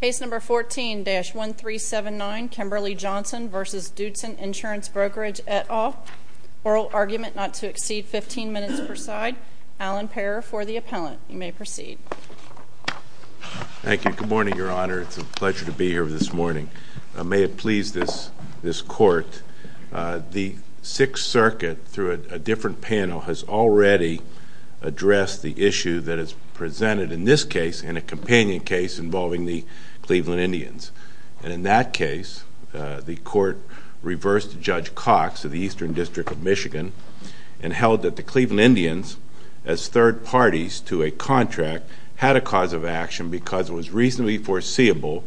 Case No. 14-1379, Kimberly Johnson v. Doodson Insurance Brokerage, et al. Oral argument not to exceed 15 minutes per side. Alan Parer for the appellant. You may proceed. Thank you. Good morning, Your Honor. It's a pleasure to be here this morning. May it please this Court, the Sixth Circuit, through a different panel, has already addressed the issue that is presented in this case, in a companion case involving the Cleveland Indians. And in that case, the Court reversed Judge Cox of the Eastern District of Michigan and held that the Cleveland Indians, as third parties to a contract, had a cause of action because it was reasonably foreseeable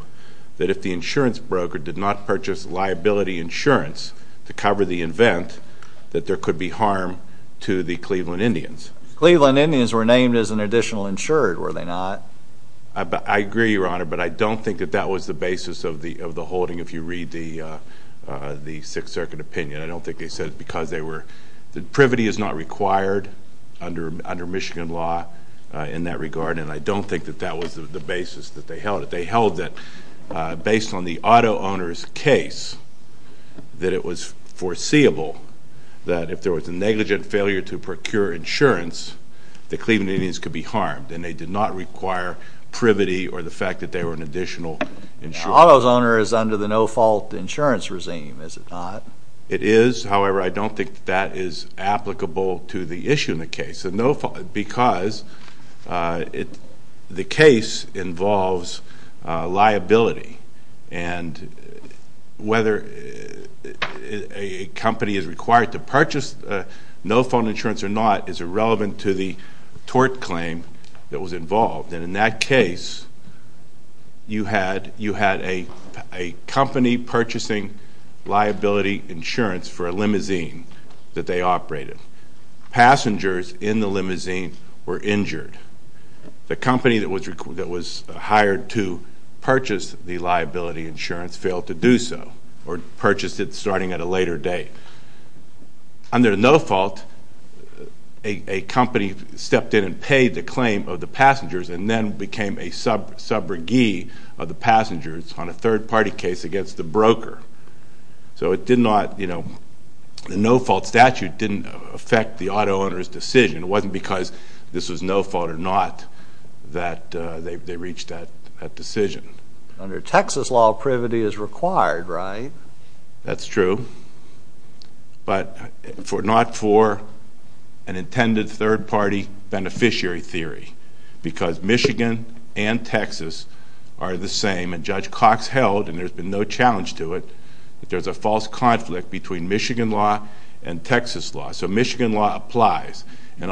that if the insurance broker did not purchase liability insurance to cover the event, that there could be harm to the Cleveland Indians. The Cleveland Indians were named as an additional insured, were they not? I agree, Your Honor, but I don't think that that was the basis of the holding, if you read the Sixth Circuit opinion. I don't think they said it because they were— privity is not required under Michigan law in that regard, and I don't think that that was the basis that they held it. Based on the auto owner's case, that it was foreseeable that if there was a negligent failure to procure insurance, the Cleveland Indians could be harmed, and they did not require privity or the fact that they were an additional insured. The auto owner is under the no-fault insurance regime, is it not? It is. However, I don't think that is applicable to the issue in the case. Because the case involves liability, and whether a company is required to purchase no-fault insurance or not is irrelevant to the tort claim that was involved. And in that case, you had a company purchasing liability insurance for a limousine that they operated. Passengers in the limousine were injured. The company that was hired to purchase the liability insurance failed to do so or purchased it starting at a later date. Under no-fault, a company stepped in and paid the claim of the passengers and then became a sub-briguee of the passengers on a third-party case against the broker. So the no-fault statute didn't affect the auto owner's decision. It wasn't because this was no fault or not that they reached that decision. Under Texas law, privity is required, right? That's true, but not for an intended third-party beneficiary theory. Because Michigan and Texas are the same, and Judge Cox held, and there's been no challenge to it, that there's a false conflict between Michigan law and Texas law. So Michigan law applies. And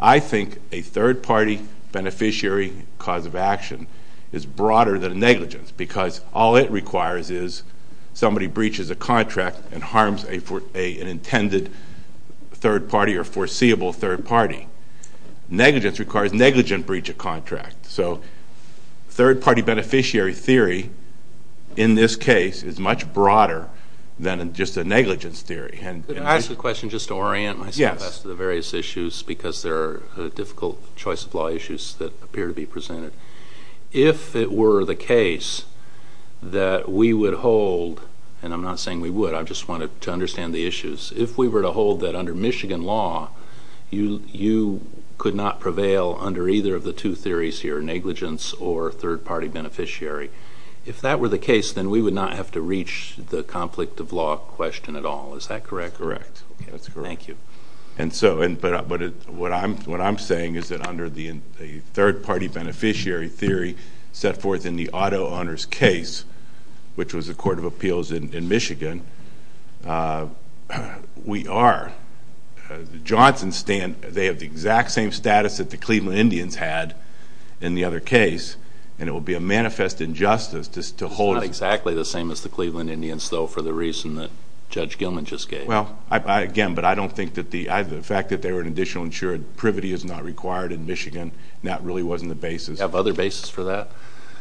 I think a third-party beneficiary cause of action is broader than negligence because all it requires is somebody breaches a contract and harms an intended third party or foreseeable third party. Negligence requires negligent breach of contract. So third-party beneficiary theory, in this case, is much broader than just a negligence theory. Can I ask a question just to orient myself as to the various issues because there are difficult choice of law issues that appear to be presented? If it were the case that we would hold, and I'm not saying we would, I just wanted to understand the issues. If we were to hold that under Michigan law, you could not prevail under either of the two theories here, negligence or third-party beneficiary. If that were the case, then we would not have to reach the conflict of law question at all. Is that correct? That's correct. Thank you. But what I'm saying is that under the third-party beneficiary theory set forth in the auto owner's case, which was the Court of Appeals in Michigan, we are, the Johnson's stand, they have the exact same status that the Cleveland Indians had in the other case, and it would be a manifest injustice to hold... It's not exactly the same as the Cleveland Indians, though, for the reason that Judge Gilman just gave. Well, again, but I don't think that the fact that they were an additional insured, privity is not required in Michigan, and that really wasn't the basis. You have other basis for that?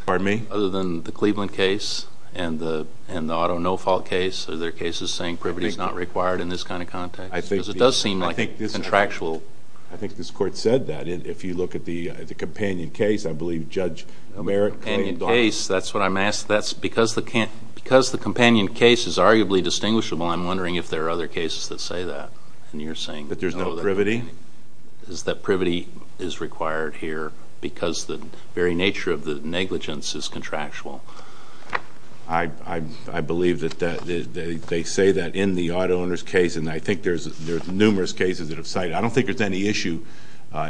Pardon me? Other than the Cleveland case and the auto no-fault case, are there cases saying privity is not required in this kind of context? Because it does seem like a contractual... I think this Court said that. If you look at the companion case, I believe Judge Merrick... The companion case, that's what I'm asking. Because the companion case is arguably distinguishable, I'm wondering if there are other cases that say that, and you're saying... That there's no privity? Is that privity is required here because the very nature of the negligence is contractual? I believe that they say that in the auto owner's case, and I think there's numerous cases that have cited it. I don't think there's any issue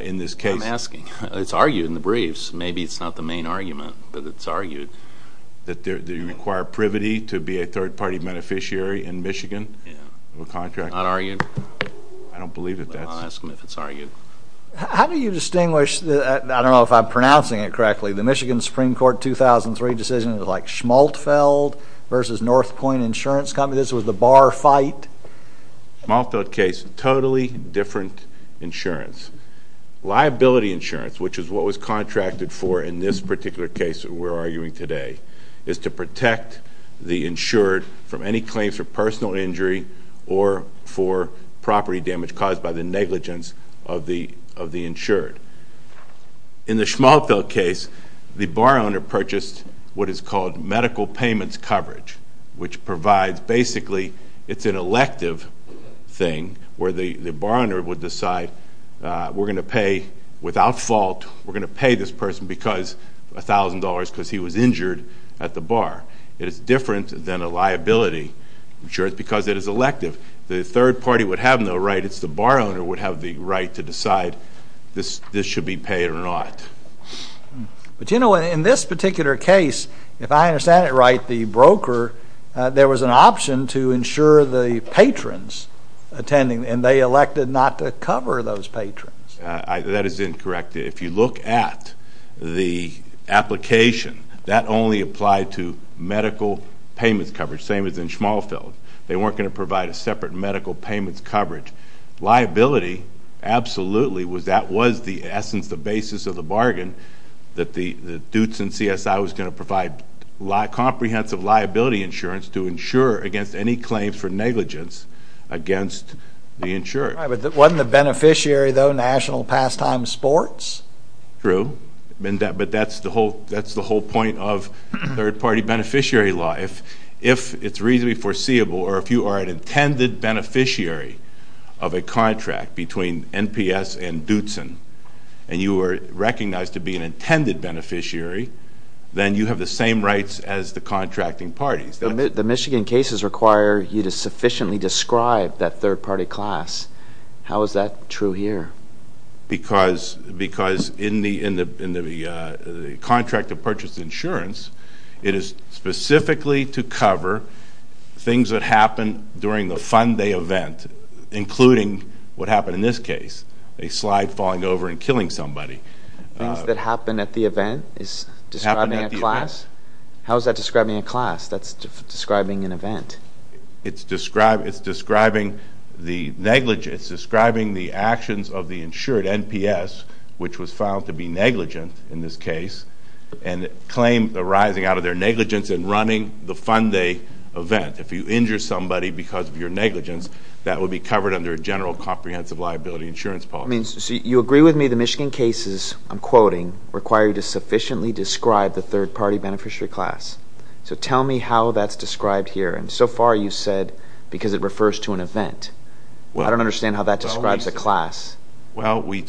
in this case. I'm asking. It's argued in the briefs. Maybe it's not the main argument, but it's argued. That they require privity to be a third-party beneficiary in Michigan? Yeah. Not argued. I don't believe that that's... I'm asking if it's argued. How do you distinguish... I don't know if I'm pronouncing it correctly. The Michigan Supreme Court 2003 decision was like Schmaltfeld versus North Point Insurance Company. This was the bar fight. Schmaltfeld case, totally different insurance. Liability insurance, which is what was contracted for in this particular case that we're arguing today, is to protect the insured from any claims for personal injury or for property damage caused by the negligence of the insured. In the Schmaltfeld case, the bar owner purchased what is called medical payments coverage, which provides, basically, it's an elective thing where the bar owner would decide, we're going to pay, without fault, we're going to pay this person $1,000 because he was injured at the bar. It is different than a liability insurance because it is elective. The third party would have no right. It's the bar owner would have the right to decide this should be paid or not. But, you know, in this particular case, if I understand it right, the broker, there was an option to insure the patrons attending, and they elected not to cover those patrons. That is incorrect. If you look at the application, that only applied to medical payments coverage, same as in Schmaltfeld. They weren't going to provide a separate medical payments coverage. Liability, absolutely, that was the essence, the basis of the bargain, that the Dootson CSI was going to provide comprehensive liability insurance to insure against any claims for negligence against the insurer. Right, but wasn't the beneficiary, though, National Pastime Sports? True, but that's the whole point of third party beneficiary law. If it's reasonably foreseeable, or if you are an intended beneficiary of a contract between NPS and Dootson, and you are recognized to be an intended beneficiary, then you have the same rights as the contracting parties. The Michigan cases require you to sufficiently describe that third party class. How is that true here? Because in the contract of purchase insurance, it is specifically to cover things that happen during the fund day event, including what happened in this case, a slide falling over and killing somebody. Things that happen at the event is describing a class? How is that describing a class? That's describing an event. It's describing the negligence, it's describing the actions of the insured NPS, which was found to be negligent in this case, and claim arising out of their negligence in running the fund day event. If you injure somebody because of your negligence, that would be covered under a general comprehensive liability insurance policy. So you agree with me the Michigan cases, I'm quoting, require you to sufficiently describe the third party beneficiary class. So tell me how that's described here. And so far you've said because it refers to an event. I don't understand how that describes a class. They're required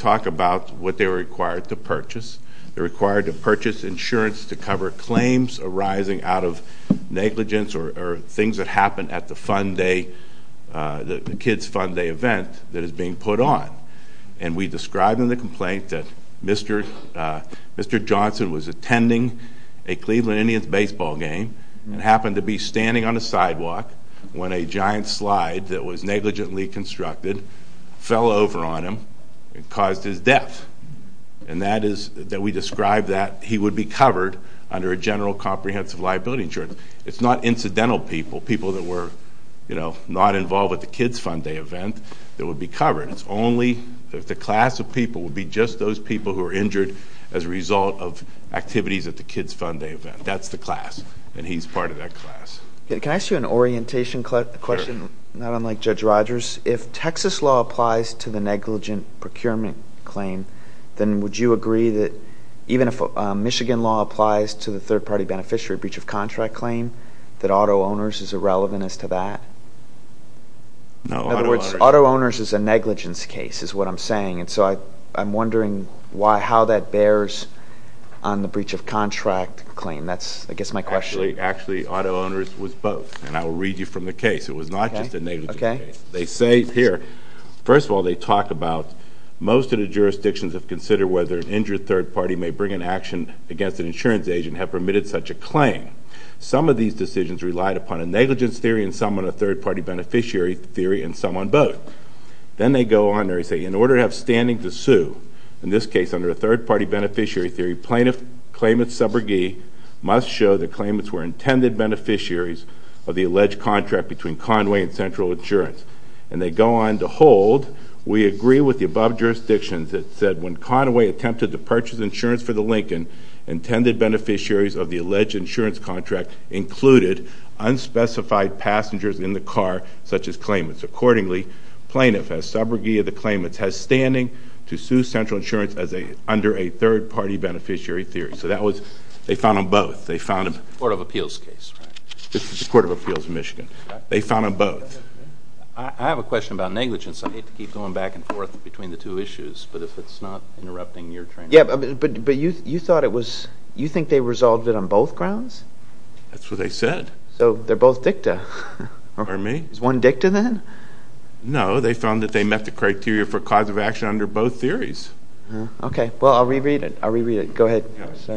to purchase insurance to cover claims arising out of negligence or things that happen at the kids' fund day event that is being put on. And we describe in the complaint that Mr. Johnson was attending a Cleveland Indians baseball game and happened to be standing on a sidewalk when a giant slide that was negligently constructed fell over on him and caused his death. And that is that we describe that he would be covered under a general comprehensive liability insurance. It's not incidental people, people that were, you know, not involved at the kids' fund day event that would be covered. It's only if the class of people would be just those people who were injured as a result of activities at the kids' fund day event. That's the class, and he's part of that class. Can I ask you an orientation question, not unlike Judge Rogers? If Texas law applies to the negligent procurement claim, then would you agree that even if Michigan law applies to the third-party beneficiary breach of contract claim, that auto owners is irrelevant as to that? No. In other words, auto owners is a negligence case is what I'm saying, and so I'm wondering how that bears on the breach of contract claim. That's, I guess, my question. Actually, auto owners was both, and I will read you from the case. It was not just a negligence case. Okay. They say here, first of all, they talk about most of the jurisdictions have considered whether an injured third-party may bring an action against an insurance agent have permitted such a claim. Some of these decisions relied upon a negligence theory and some on a third-party beneficiary theory and some on both. Then they go on there and say, in order to have standing to sue, in this case under a third-party beneficiary theory, plaintiff claimant's subrogee must show that the claimants were intended beneficiaries of the alleged contract between Conway and Central Insurance. And they go on to hold, we agree with the above jurisdictions that said when Conway attempted to purchase insurance for the Lincoln, intended beneficiaries of the alleged insurance contract included unspecified passengers in the car, such as claimants. Accordingly, plaintiff has subrogee of the claimants has standing to sue Central Insurance under a third-party beneficiary theory. So that was, they found on both. This is the Court of Appeals case, right? This is the Court of Appeals in Michigan. They found on both. I have a question about negligence. I hate to keep going back and forth between the two issues, but if it's not interrupting your training. Yeah, but you thought it was, you think they resolved it on both grounds? That's what they said. So they're both dicta. Pardon me? One dicta then? No, they found that they met the criteria for cause of action under both theories. Okay. Well, I'll reread it. Go ahead.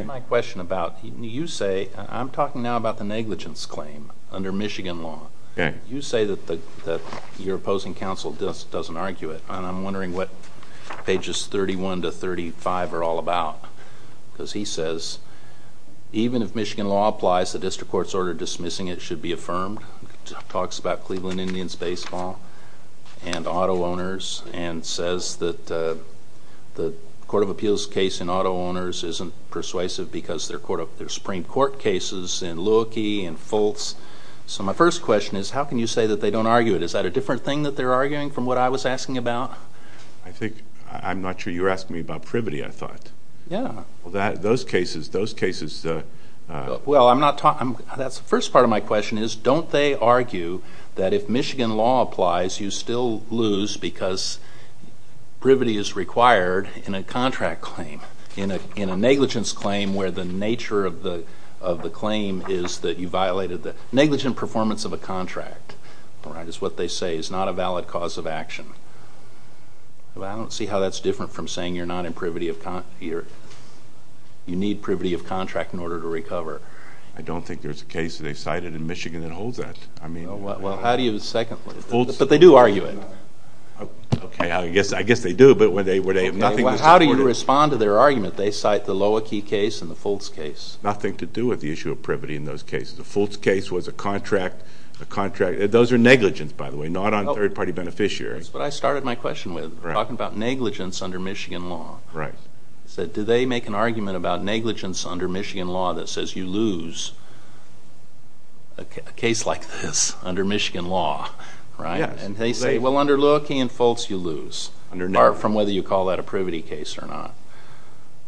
My question about, you say, I'm talking now about the negligence claim under Michigan law. Okay. You say that your opposing counsel just doesn't argue it, and I'm wondering what pages 31 to 35 are all about. Because he says, even if Michigan law applies, the district court's order dismissing it should be affirmed. Talks about Cleveland Indians baseball and auto owners and says that the Court of Appeals case in auto owners isn't persuasive because they're Supreme Court cases in Lewicki and Fultz. So my first question is, how can you say that they don't argue it? Is that a different thing that they're arguing from what I was asking about? I'm not sure you were asking me about privity, I thought. Yeah. Those cases, those cases. Well, that's the first part of my question is, don't they argue that if Michigan law applies, you still lose because privity is required in a contract claim, in a negligence claim where the nature of the claim is that you violated the negligent performance of a contract, is what they say is not a valid cause of action. I don't see how that's different from saying you need privity of contract in order to recover. I don't think there's a case they cited in Michigan that holds that. Well, how do you second that? But they do argue it. Okay, I guess they do. How do you respond to their argument? They cite the Lewicki case and the Fultz case. Nothing to do with the issue of privity in those cases. The Fultz case was a contract. Those are negligence, by the way, not on third-party beneficiaries. That's what I started my question with, talking about negligence under Michigan law. I said, do they make an argument about negligence under Michigan law that says you lose a case like this under Michigan law? And they say, well, under Lewicki and Fultz you lose, apart from whether you call that a privity case or not.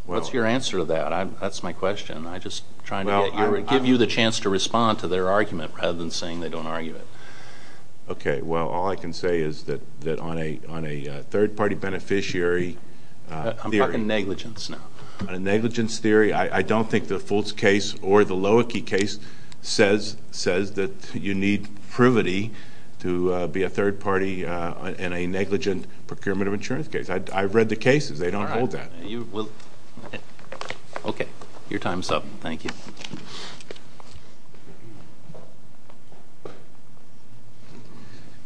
What's your answer to that? That's my question. I'm just trying to give you the chance to respond to their argument rather than saying they don't argue it. Okay, well, all I can say is that on a third-party beneficiary theory. I'm talking negligence now. A negligence theory. I don't think the Fultz case or the Lewicki case says that you need privity to be a third party in a negligent procurement of insurance case. I've read the cases. They don't hold that. All right. Okay, your time is up. Thank you.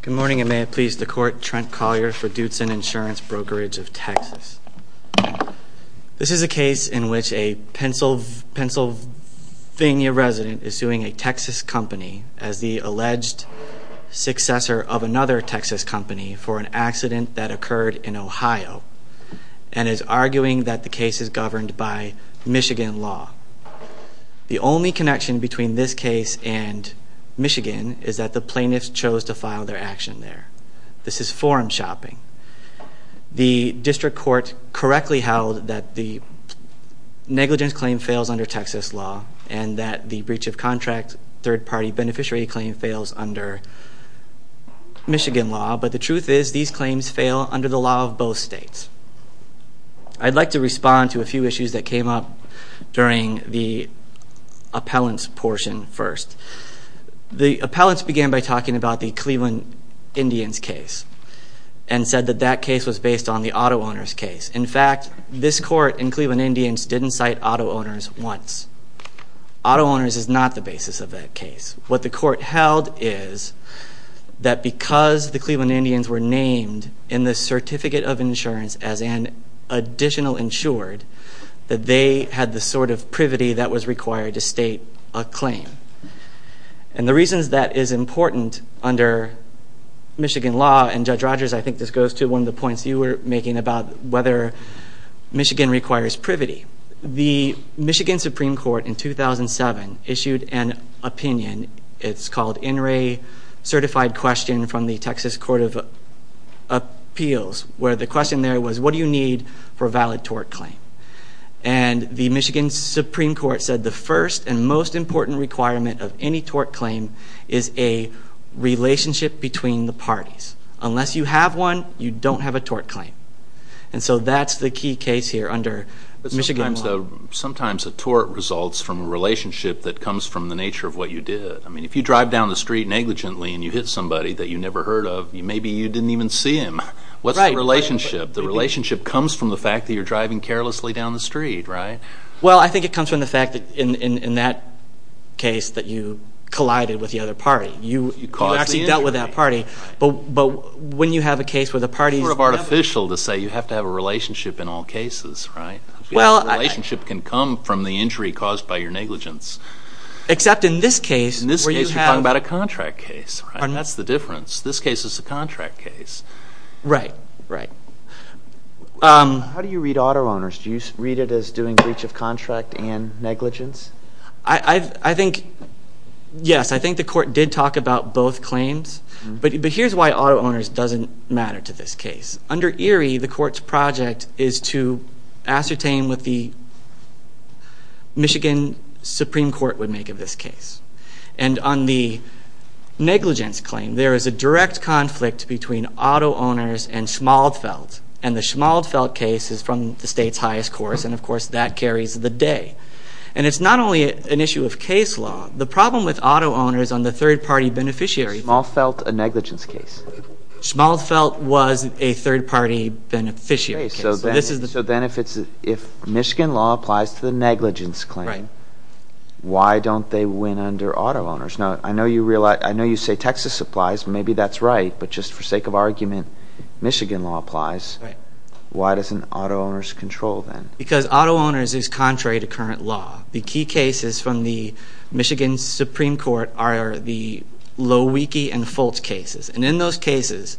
Good morning, and may it please the Court. Trent Collier for Doodson Insurance Brokerage of Texas. This is a case in which a Pennsylvania resident is suing a Texas company as the alleged successor of another Texas company for an accident that occurred in Ohio and is arguing that the case is governed by Michigan law. The only connection between this case and Michigan is that the plaintiffs chose to file their action there. This is forum shopping. The district court correctly held that the negligence claim fails under Texas law and that the breach of contract third-party beneficiary claim fails under Michigan law, but the truth is these claims fail under the law of both states. I'd like to respond to a few issues that came up during the appellants portion first. The appellants began by talking about the Cleveland Indians case and said that that case was based on the auto owners case. In fact, this court in Cleveland Indians didn't cite auto owners once. Auto owners is not the basis of that case. What the court held is that because the Cleveland Indians were named in the certificate of insurance as an additional insured, that they had the sort of privity that was required to state a claim. And the reasons that is important under Michigan law, and Judge Rogers, I think this goes to one of the points you were making about whether Michigan requires privity. The Michigan Supreme Court in 2007 issued an opinion. It's called NRA Certified Question from the Texas Court of Appeals, where the question there was, what do you need for a valid tort claim? And the Michigan Supreme Court said the first and most important requirement of any tort claim is a relationship between the parties. Unless you have one, you don't have a tort claim. And so that's the key case here under Michigan law. But sometimes a tort results from a relationship that comes from the nature of what you did. I mean, if you drive down the street negligently and you hit somebody that you never heard of, maybe you didn't even see him. What's the relationship? The relationship comes from the fact that you're driving carelessly down the street, right? Well, I think it comes from the fact that in that case that you collided with the other party. You actually dealt with that party. But when you have a case where the party is negligent. It's sort of artificial to say you have to have a relationship in all cases, right? The relationship can come from the injury caused by your negligence. Except in this case. In this case you're talking about a contract case. That's the difference. This case is a contract case. Right, right. How do you read auto owners? Do you read it as doing breach of contract and negligence? I think, yes, I think the court did talk about both claims. But here's why auto owners doesn't matter to this case. Under Erie, the court's project is to ascertain what the Michigan Supreme Court would make of this case. And on the negligence claim, there is a direct conflict between auto owners and Schmaltfeld. And the Schmaltfeld case is from the state's highest course. And, of course, that carries the day. And it's not only an issue of case law. The problem with auto owners on the third-party beneficiary. Is Schmaltfeld a negligence case? Schmaltfeld was a third-party beneficiary case. So then if Michigan law applies to the negligence claim, why don't they win under auto owners? Now, I know you say Texas applies. Maybe that's right. But just for sake of argument, Michigan law applies. Why doesn't auto owners control then? Because auto owners is contrary to current law. The key cases from the Michigan Supreme Court are the Lowe, Wiecki, and Fulch cases. And in those cases,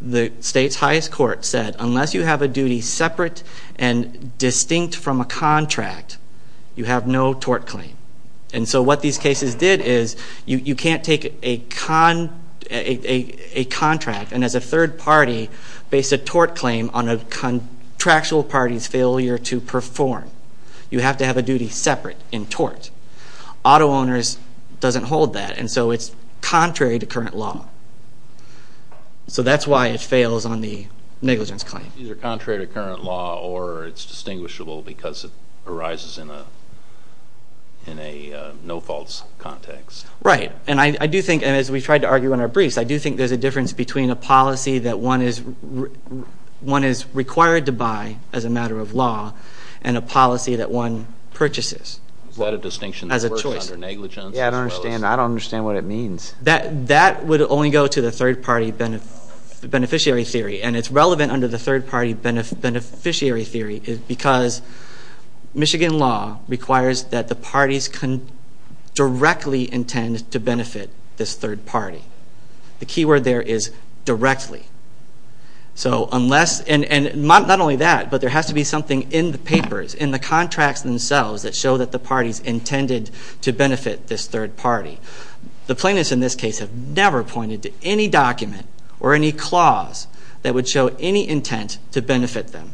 the state's highest court said unless you have a duty separate and distinct from a contract, you have no tort claim. And so what these cases did is you can't take a contract and as a third party base a tort claim on a contractual party's failure to perform. You have to have a duty separate in tort. Auto owners doesn't hold that. And so it's contrary to current law. So that's why it fails on the negligence claim. Either contrary to current law or it's distinguishable because it arises in a no-faults context. Right. And as we tried to argue in our briefs, I do think there's a difference between a policy that one is required to buy as a matter of law and a policy that one purchases as a choice. Is that a distinction that works under negligence? Yeah, I don't understand what it means. That would only go to the third party beneficiary theory. And it's relevant under the third party beneficiary theory because Michigan law requires that the parties can directly intend to benefit this third party. The key word there is directly. So unless, and not only that, but there has to be something in the papers, in the contracts themselves that show that the parties intended to benefit this third party. The plaintiffs in this case have never pointed to any document or any clause that would show any intent to benefit them.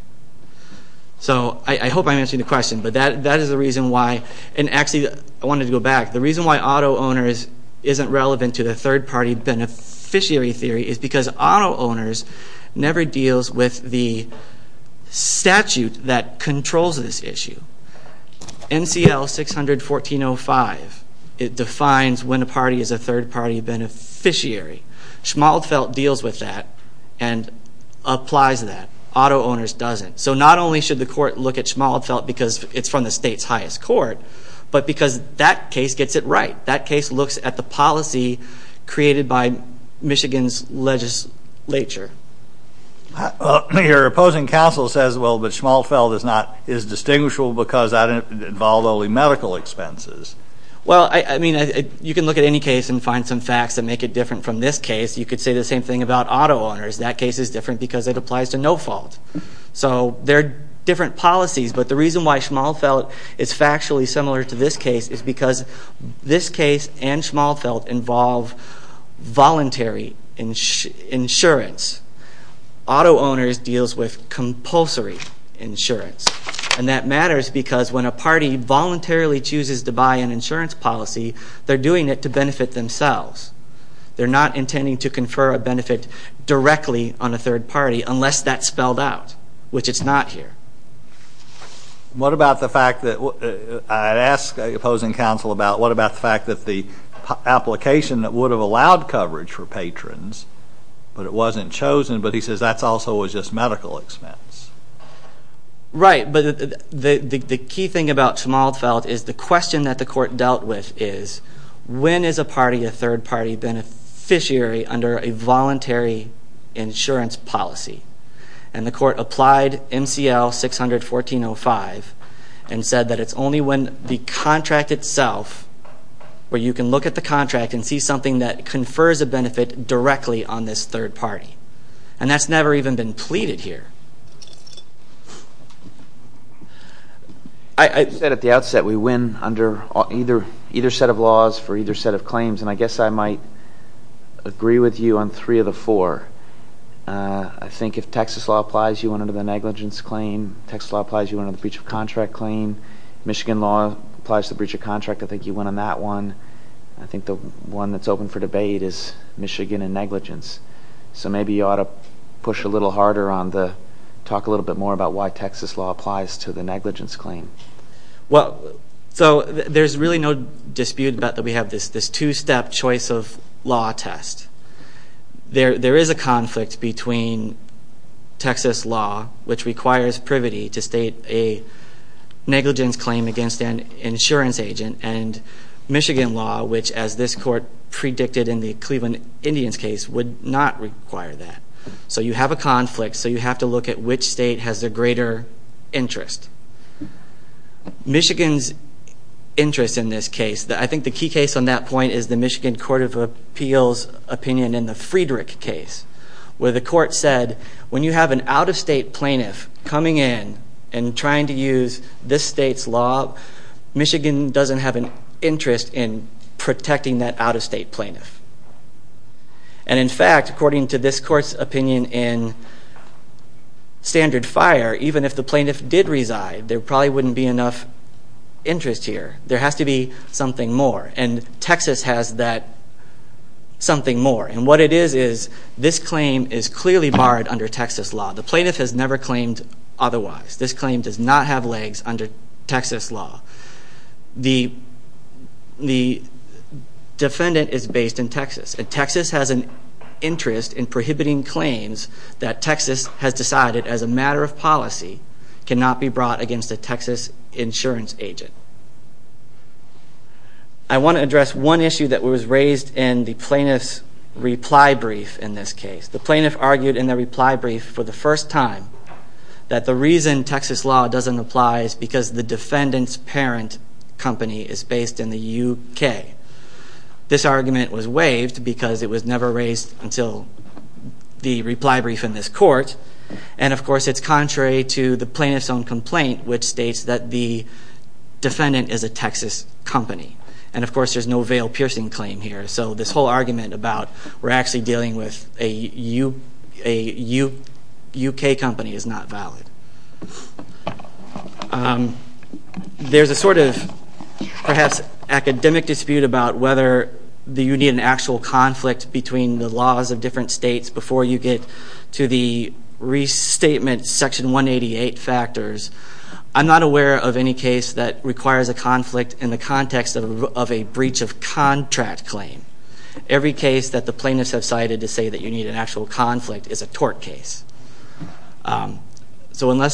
So I hope I'm answering the question. But that is the reason why, and actually I wanted to go back. The reason why auto owners isn't relevant to the third party beneficiary theory is because auto owners never deals with the statute that controls this issue. NCL 600-1405, it defines when a party is a third party beneficiary. Schmaltfeldt deals with that and applies that. Auto owners doesn't. So not only should the court look at Schmaltfeldt because it's from the state's highest court, but because that case gets it right. That case looks at the policy created by Michigan's legislature. Your opposing counsel says, well, that Schmaltfeldt is not, is distinguishable because that involved only medical expenses. Well, I mean, you can look at any case and find some facts that make it different from this case. You could say the same thing about auto owners. That case is different because it applies to no fault. So there are different policies, but the reason why Schmaltfeldt is factually similar to this case is because this case and Schmaltfeldt involve voluntary insurance. Auto owners deals with compulsory insurance, and that matters because when a party voluntarily chooses to buy an insurance policy, they're doing it to benefit themselves. They're not intending to confer a benefit directly on a third party unless that's spelled out, which it's not here. What about the fact that, I'd ask opposing counsel about, what about the fact that the application that would have allowed coverage for patrons, but it wasn't chosen, but he says that also was just medical expense. Right, but the key thing about Schmaltfeldt is the question that the court dealt with is, when is a party, a third party beneficiary under a voluntary insurance policy? And the court applied MCL 600-1405 and said that it's only when the contract itself, where you can look at the contract and see something that confers a benefit directly on this third party. And that's never even been pleaded here. I said at the outset we win under either set of laws for either set of claims, and I guess I might agree with you on three of the four. I think if Texas law applies, you win under the negligence claim. Texas law applies, you win under the breach of contract claim. Michigan law applies to the breach of contract. I think you win on that one. I think the one that's open for debate is Michigan and negligence. So maybe you ought to push a little harder on the, talk a little bit more about why Texas law applies to the negligence claim. Well, so there's really no dispute about that we have this two-step choice of law test. There is a conflict between Texas law, which requires privity to state a negligence claim against an insurance agent, and Michigan law, which as this court predicted in the Cleveland Indians case, would not require that. So you have a conflict, so you have to look at which state has the greater interest. Michigan's interest in this case, I think the key case on that point is the Michigan Court of Appeals opinion in the Friedrich case, where the court said when you have an out-of-state plaintiff coming in and trying to use this state's law, Michigan doesn't have an interest in protecting that out-of-state plaintiff. And in fact, according to this court's opinion in standard fire, even if the plaintiff did reside, there probably wouldn't be enough interest here. There has to be something more, and Texas has that something more. And what it is, is this claim is clearly barred under Texas law. The plaintiff has never claimed otherwise. This claim does not have legs under Texas law. The defendant is based in Texas, and Texas has an interest in prohibiting claims that Texas has decided as a matter of policy cannot be brought against a Texas insurance agent. I want to address one issue that was raised in the plaintiff's reply brief in this case. The plaintiff argued in the reply brief for the first time that the reason Texas law doesn't apply is because the defendant's parent company is based in the UK. This argument was waived because it was never raised until the reply brief in this court. And of course, it's contrary to the plaintiff's own complaint, which states that the defendant is a Texas company. And of course, there's no veil-piercing claim here. So this whole argument about we're actually dealing with a UK company is not valid. There's a sort of perhaps academic dispute about whether you need an actual conflict between the laws of different states before you get to the restatement section 188 factors. I'm not aware of any case that requires a conflict in the context of a breach of contract claim. Every case that the plaintiffs have cited to say that you need an actual conflict is a tort case. So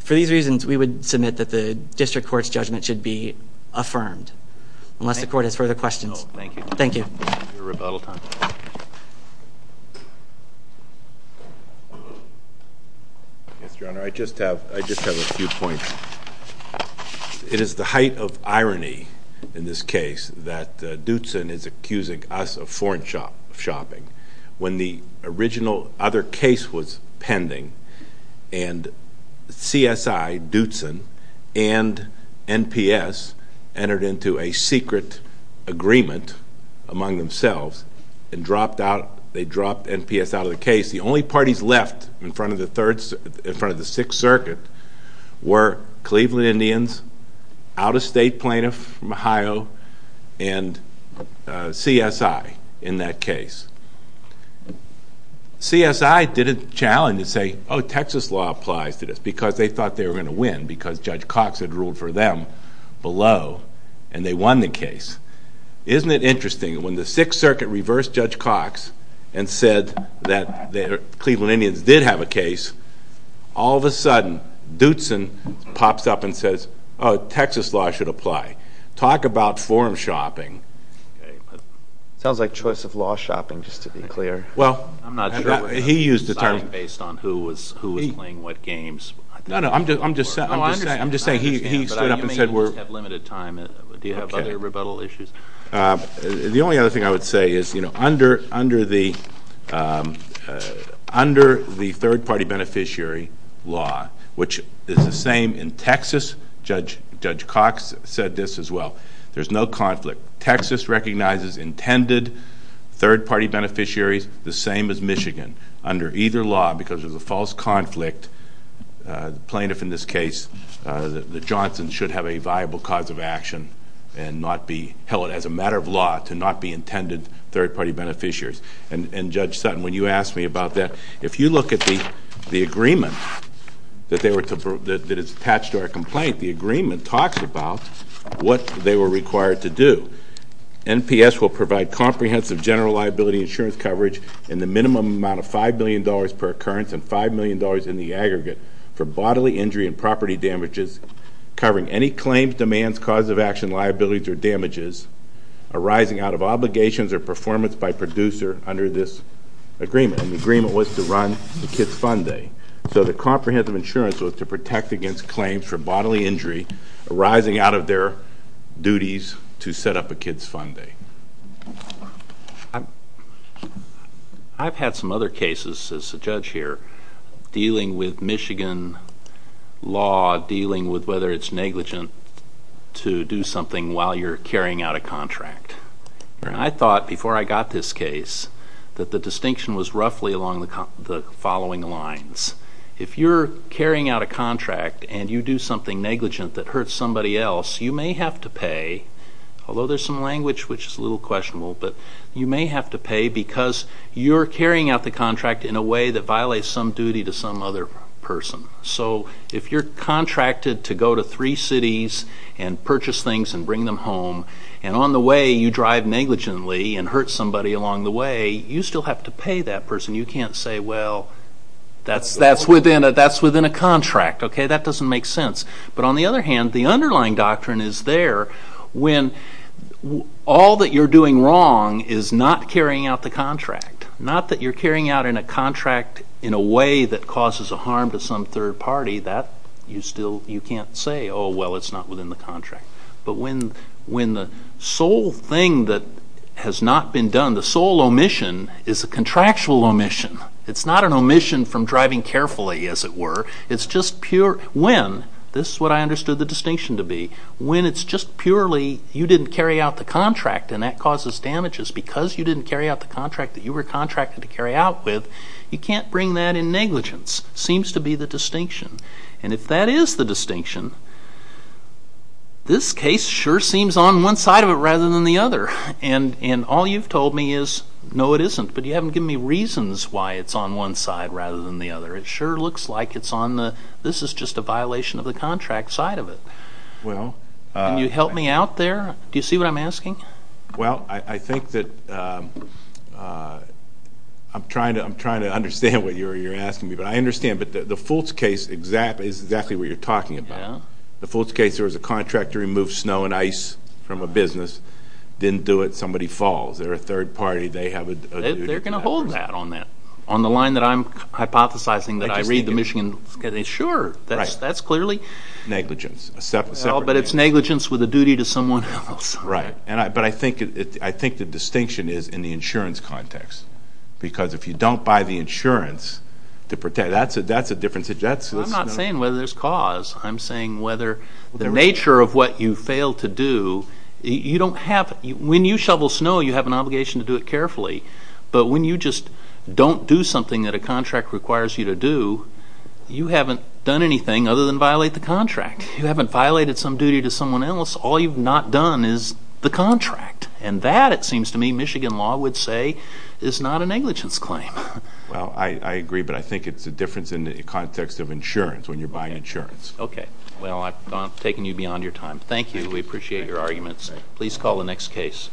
for these reasons, we would submit that the district court's judgment should be affirmed. Unless the court has further questions. Thank you. Yes, Your Honor. I just have a few points. It is the height of irony in this case that Dootson is accusing us of foreign shopping when the original other case was pending and CSI, Dootson, and NPS entered into a secret agreement among themselves and they dropped NPS out of the case. The only parties left in front of the Sixth Circuit were Cleveland Indians, out-of-state plaintiff from Ohio, and CSI in that case. CSI didn't challenge and say, oh, Texas law applies to this because they thought they were going to win because Judge Cox had ruled for them below and they won the case. Isn't it interesting when the Sixth Circuit reversed Judge Cox and said that the Cleveland Indians did have a case, all of a sudden Dootson pops up and says, oh, Texas law should apply. Talk about foreign shopping. It sounds like choice of law shopping, just to be clear. Well, he used the term— I'm not sure what was decided based on who was playing what games. No, no, I'm just saying he stood up and said we're— You may at least have limited time. Do you have other rebuttal issues? The only other thing I would say is under the third-party beneficiary law, which is the same in Texas, Judge Cox said this as well, there's no conflict. Texas recognizes intended third-party beneficiaries, the same as Michigan. Under either law, because of the false conflict, the plaintiff in this case, the Johnsons, should have a viable cause of action and not be held as a matter of law to not be intended third-party beneficiaries. And, Judge Sutton, when you asked me about that, if you look at the agreement that is attached to our complaint, the agreement talks about what they were required to do. NPS will provide comprehensive general liability insurance coverage in the minimum amount of $5 million per occurrence and $5 million in the aggregate for bodily injury and property damages covering any claims, demands, cause of action, liabilities, or damages arising out of obligations or performance by producer under this agreement. And the agreement was to run a kids' fund day. So the comprehensive insurance was to protect against claims for bodily injury arising out of their duties to set up a kids' fund day. I've had some other cases, as a judge here, dealing with Michigan law, dealing with whether it's negligent to do something while you're carrying out a contract. And I thought, before I got this case, that the distinction was roughly along the following lines. If you're carrying out a contract and you do something negligent that hurts somebody else, you may have to pay, although there's some language which is a little questionable, in a way that violates some duty to some other person. So if you're contracted to go to three cities and purchase things and bring them home, and on the way you drive negligently and hurt somebody along the way, you still have to pay that person. You can't say, well, that's within a contract. That doesn't make sense. But on the other hand, the underlying doctrine is there when all that you're doing wrong is not carrying out the contract, not that you're carrying out in a contract in a way that causes a harm to some third party, that you still can't say, oh, well, it's not within the contract. But when the sole thing that has not been done, the sole omission, is a contractual omission. It's not an omission from driving carefully, as it were. It's just pure when, this is what I understood the distinction to be, when it's just purely you didn't carry out the contract and that causes damages because you didn't carry out the contract that you were contracted to carry out with, you can't bring that in negligence. It seems to be the distinction. And if that is the distinction, this case sure seems on one side of it rather than the other. And all you've told me is, no, it isn't, but you haven't given me reasons why it's on one side rather than the other. It sure looks like it's on the, this is just a violation of the contract side of it. Can you help me out there? Do you see what I'm asking? Well, I think that, I'm trying to understand what you're asking me, but I understand. But the Fultz case is exactly what you're talking about. The Fultz case, there was a contract to remove snow and ice from a business. Didn't do it, somebody falls. They're a third party, they have a duty. They're going to hold that on that. On the line that I'm hypothesizing that I read the Michigan, sure, that's clearly. Negligence. But it's negligence with a duty to someone else. Right. But I think the distinction is in the insurance context. Because if you don't buy the insurance to protect, that's a difference. I'm not saying whether there's cause. I'm saying whether the nature of what you fail to do, you don't have, when you shovel snow you have an obligation to do it carefully. But when you just don't do something that a contract requires you to do, you haven't done anything other than violate the contract. You haven't violated some duty to someone else. All you've not done is the contract. And that, it seems to me, Michigan law would say is not a negligence claim. Well, I agree, but I think it's a difference in the context of insurance, when you're buying insurance. Okay. Well, I've taken you beyond your time. Thank you. We appreciate your arguments. Please call the next case.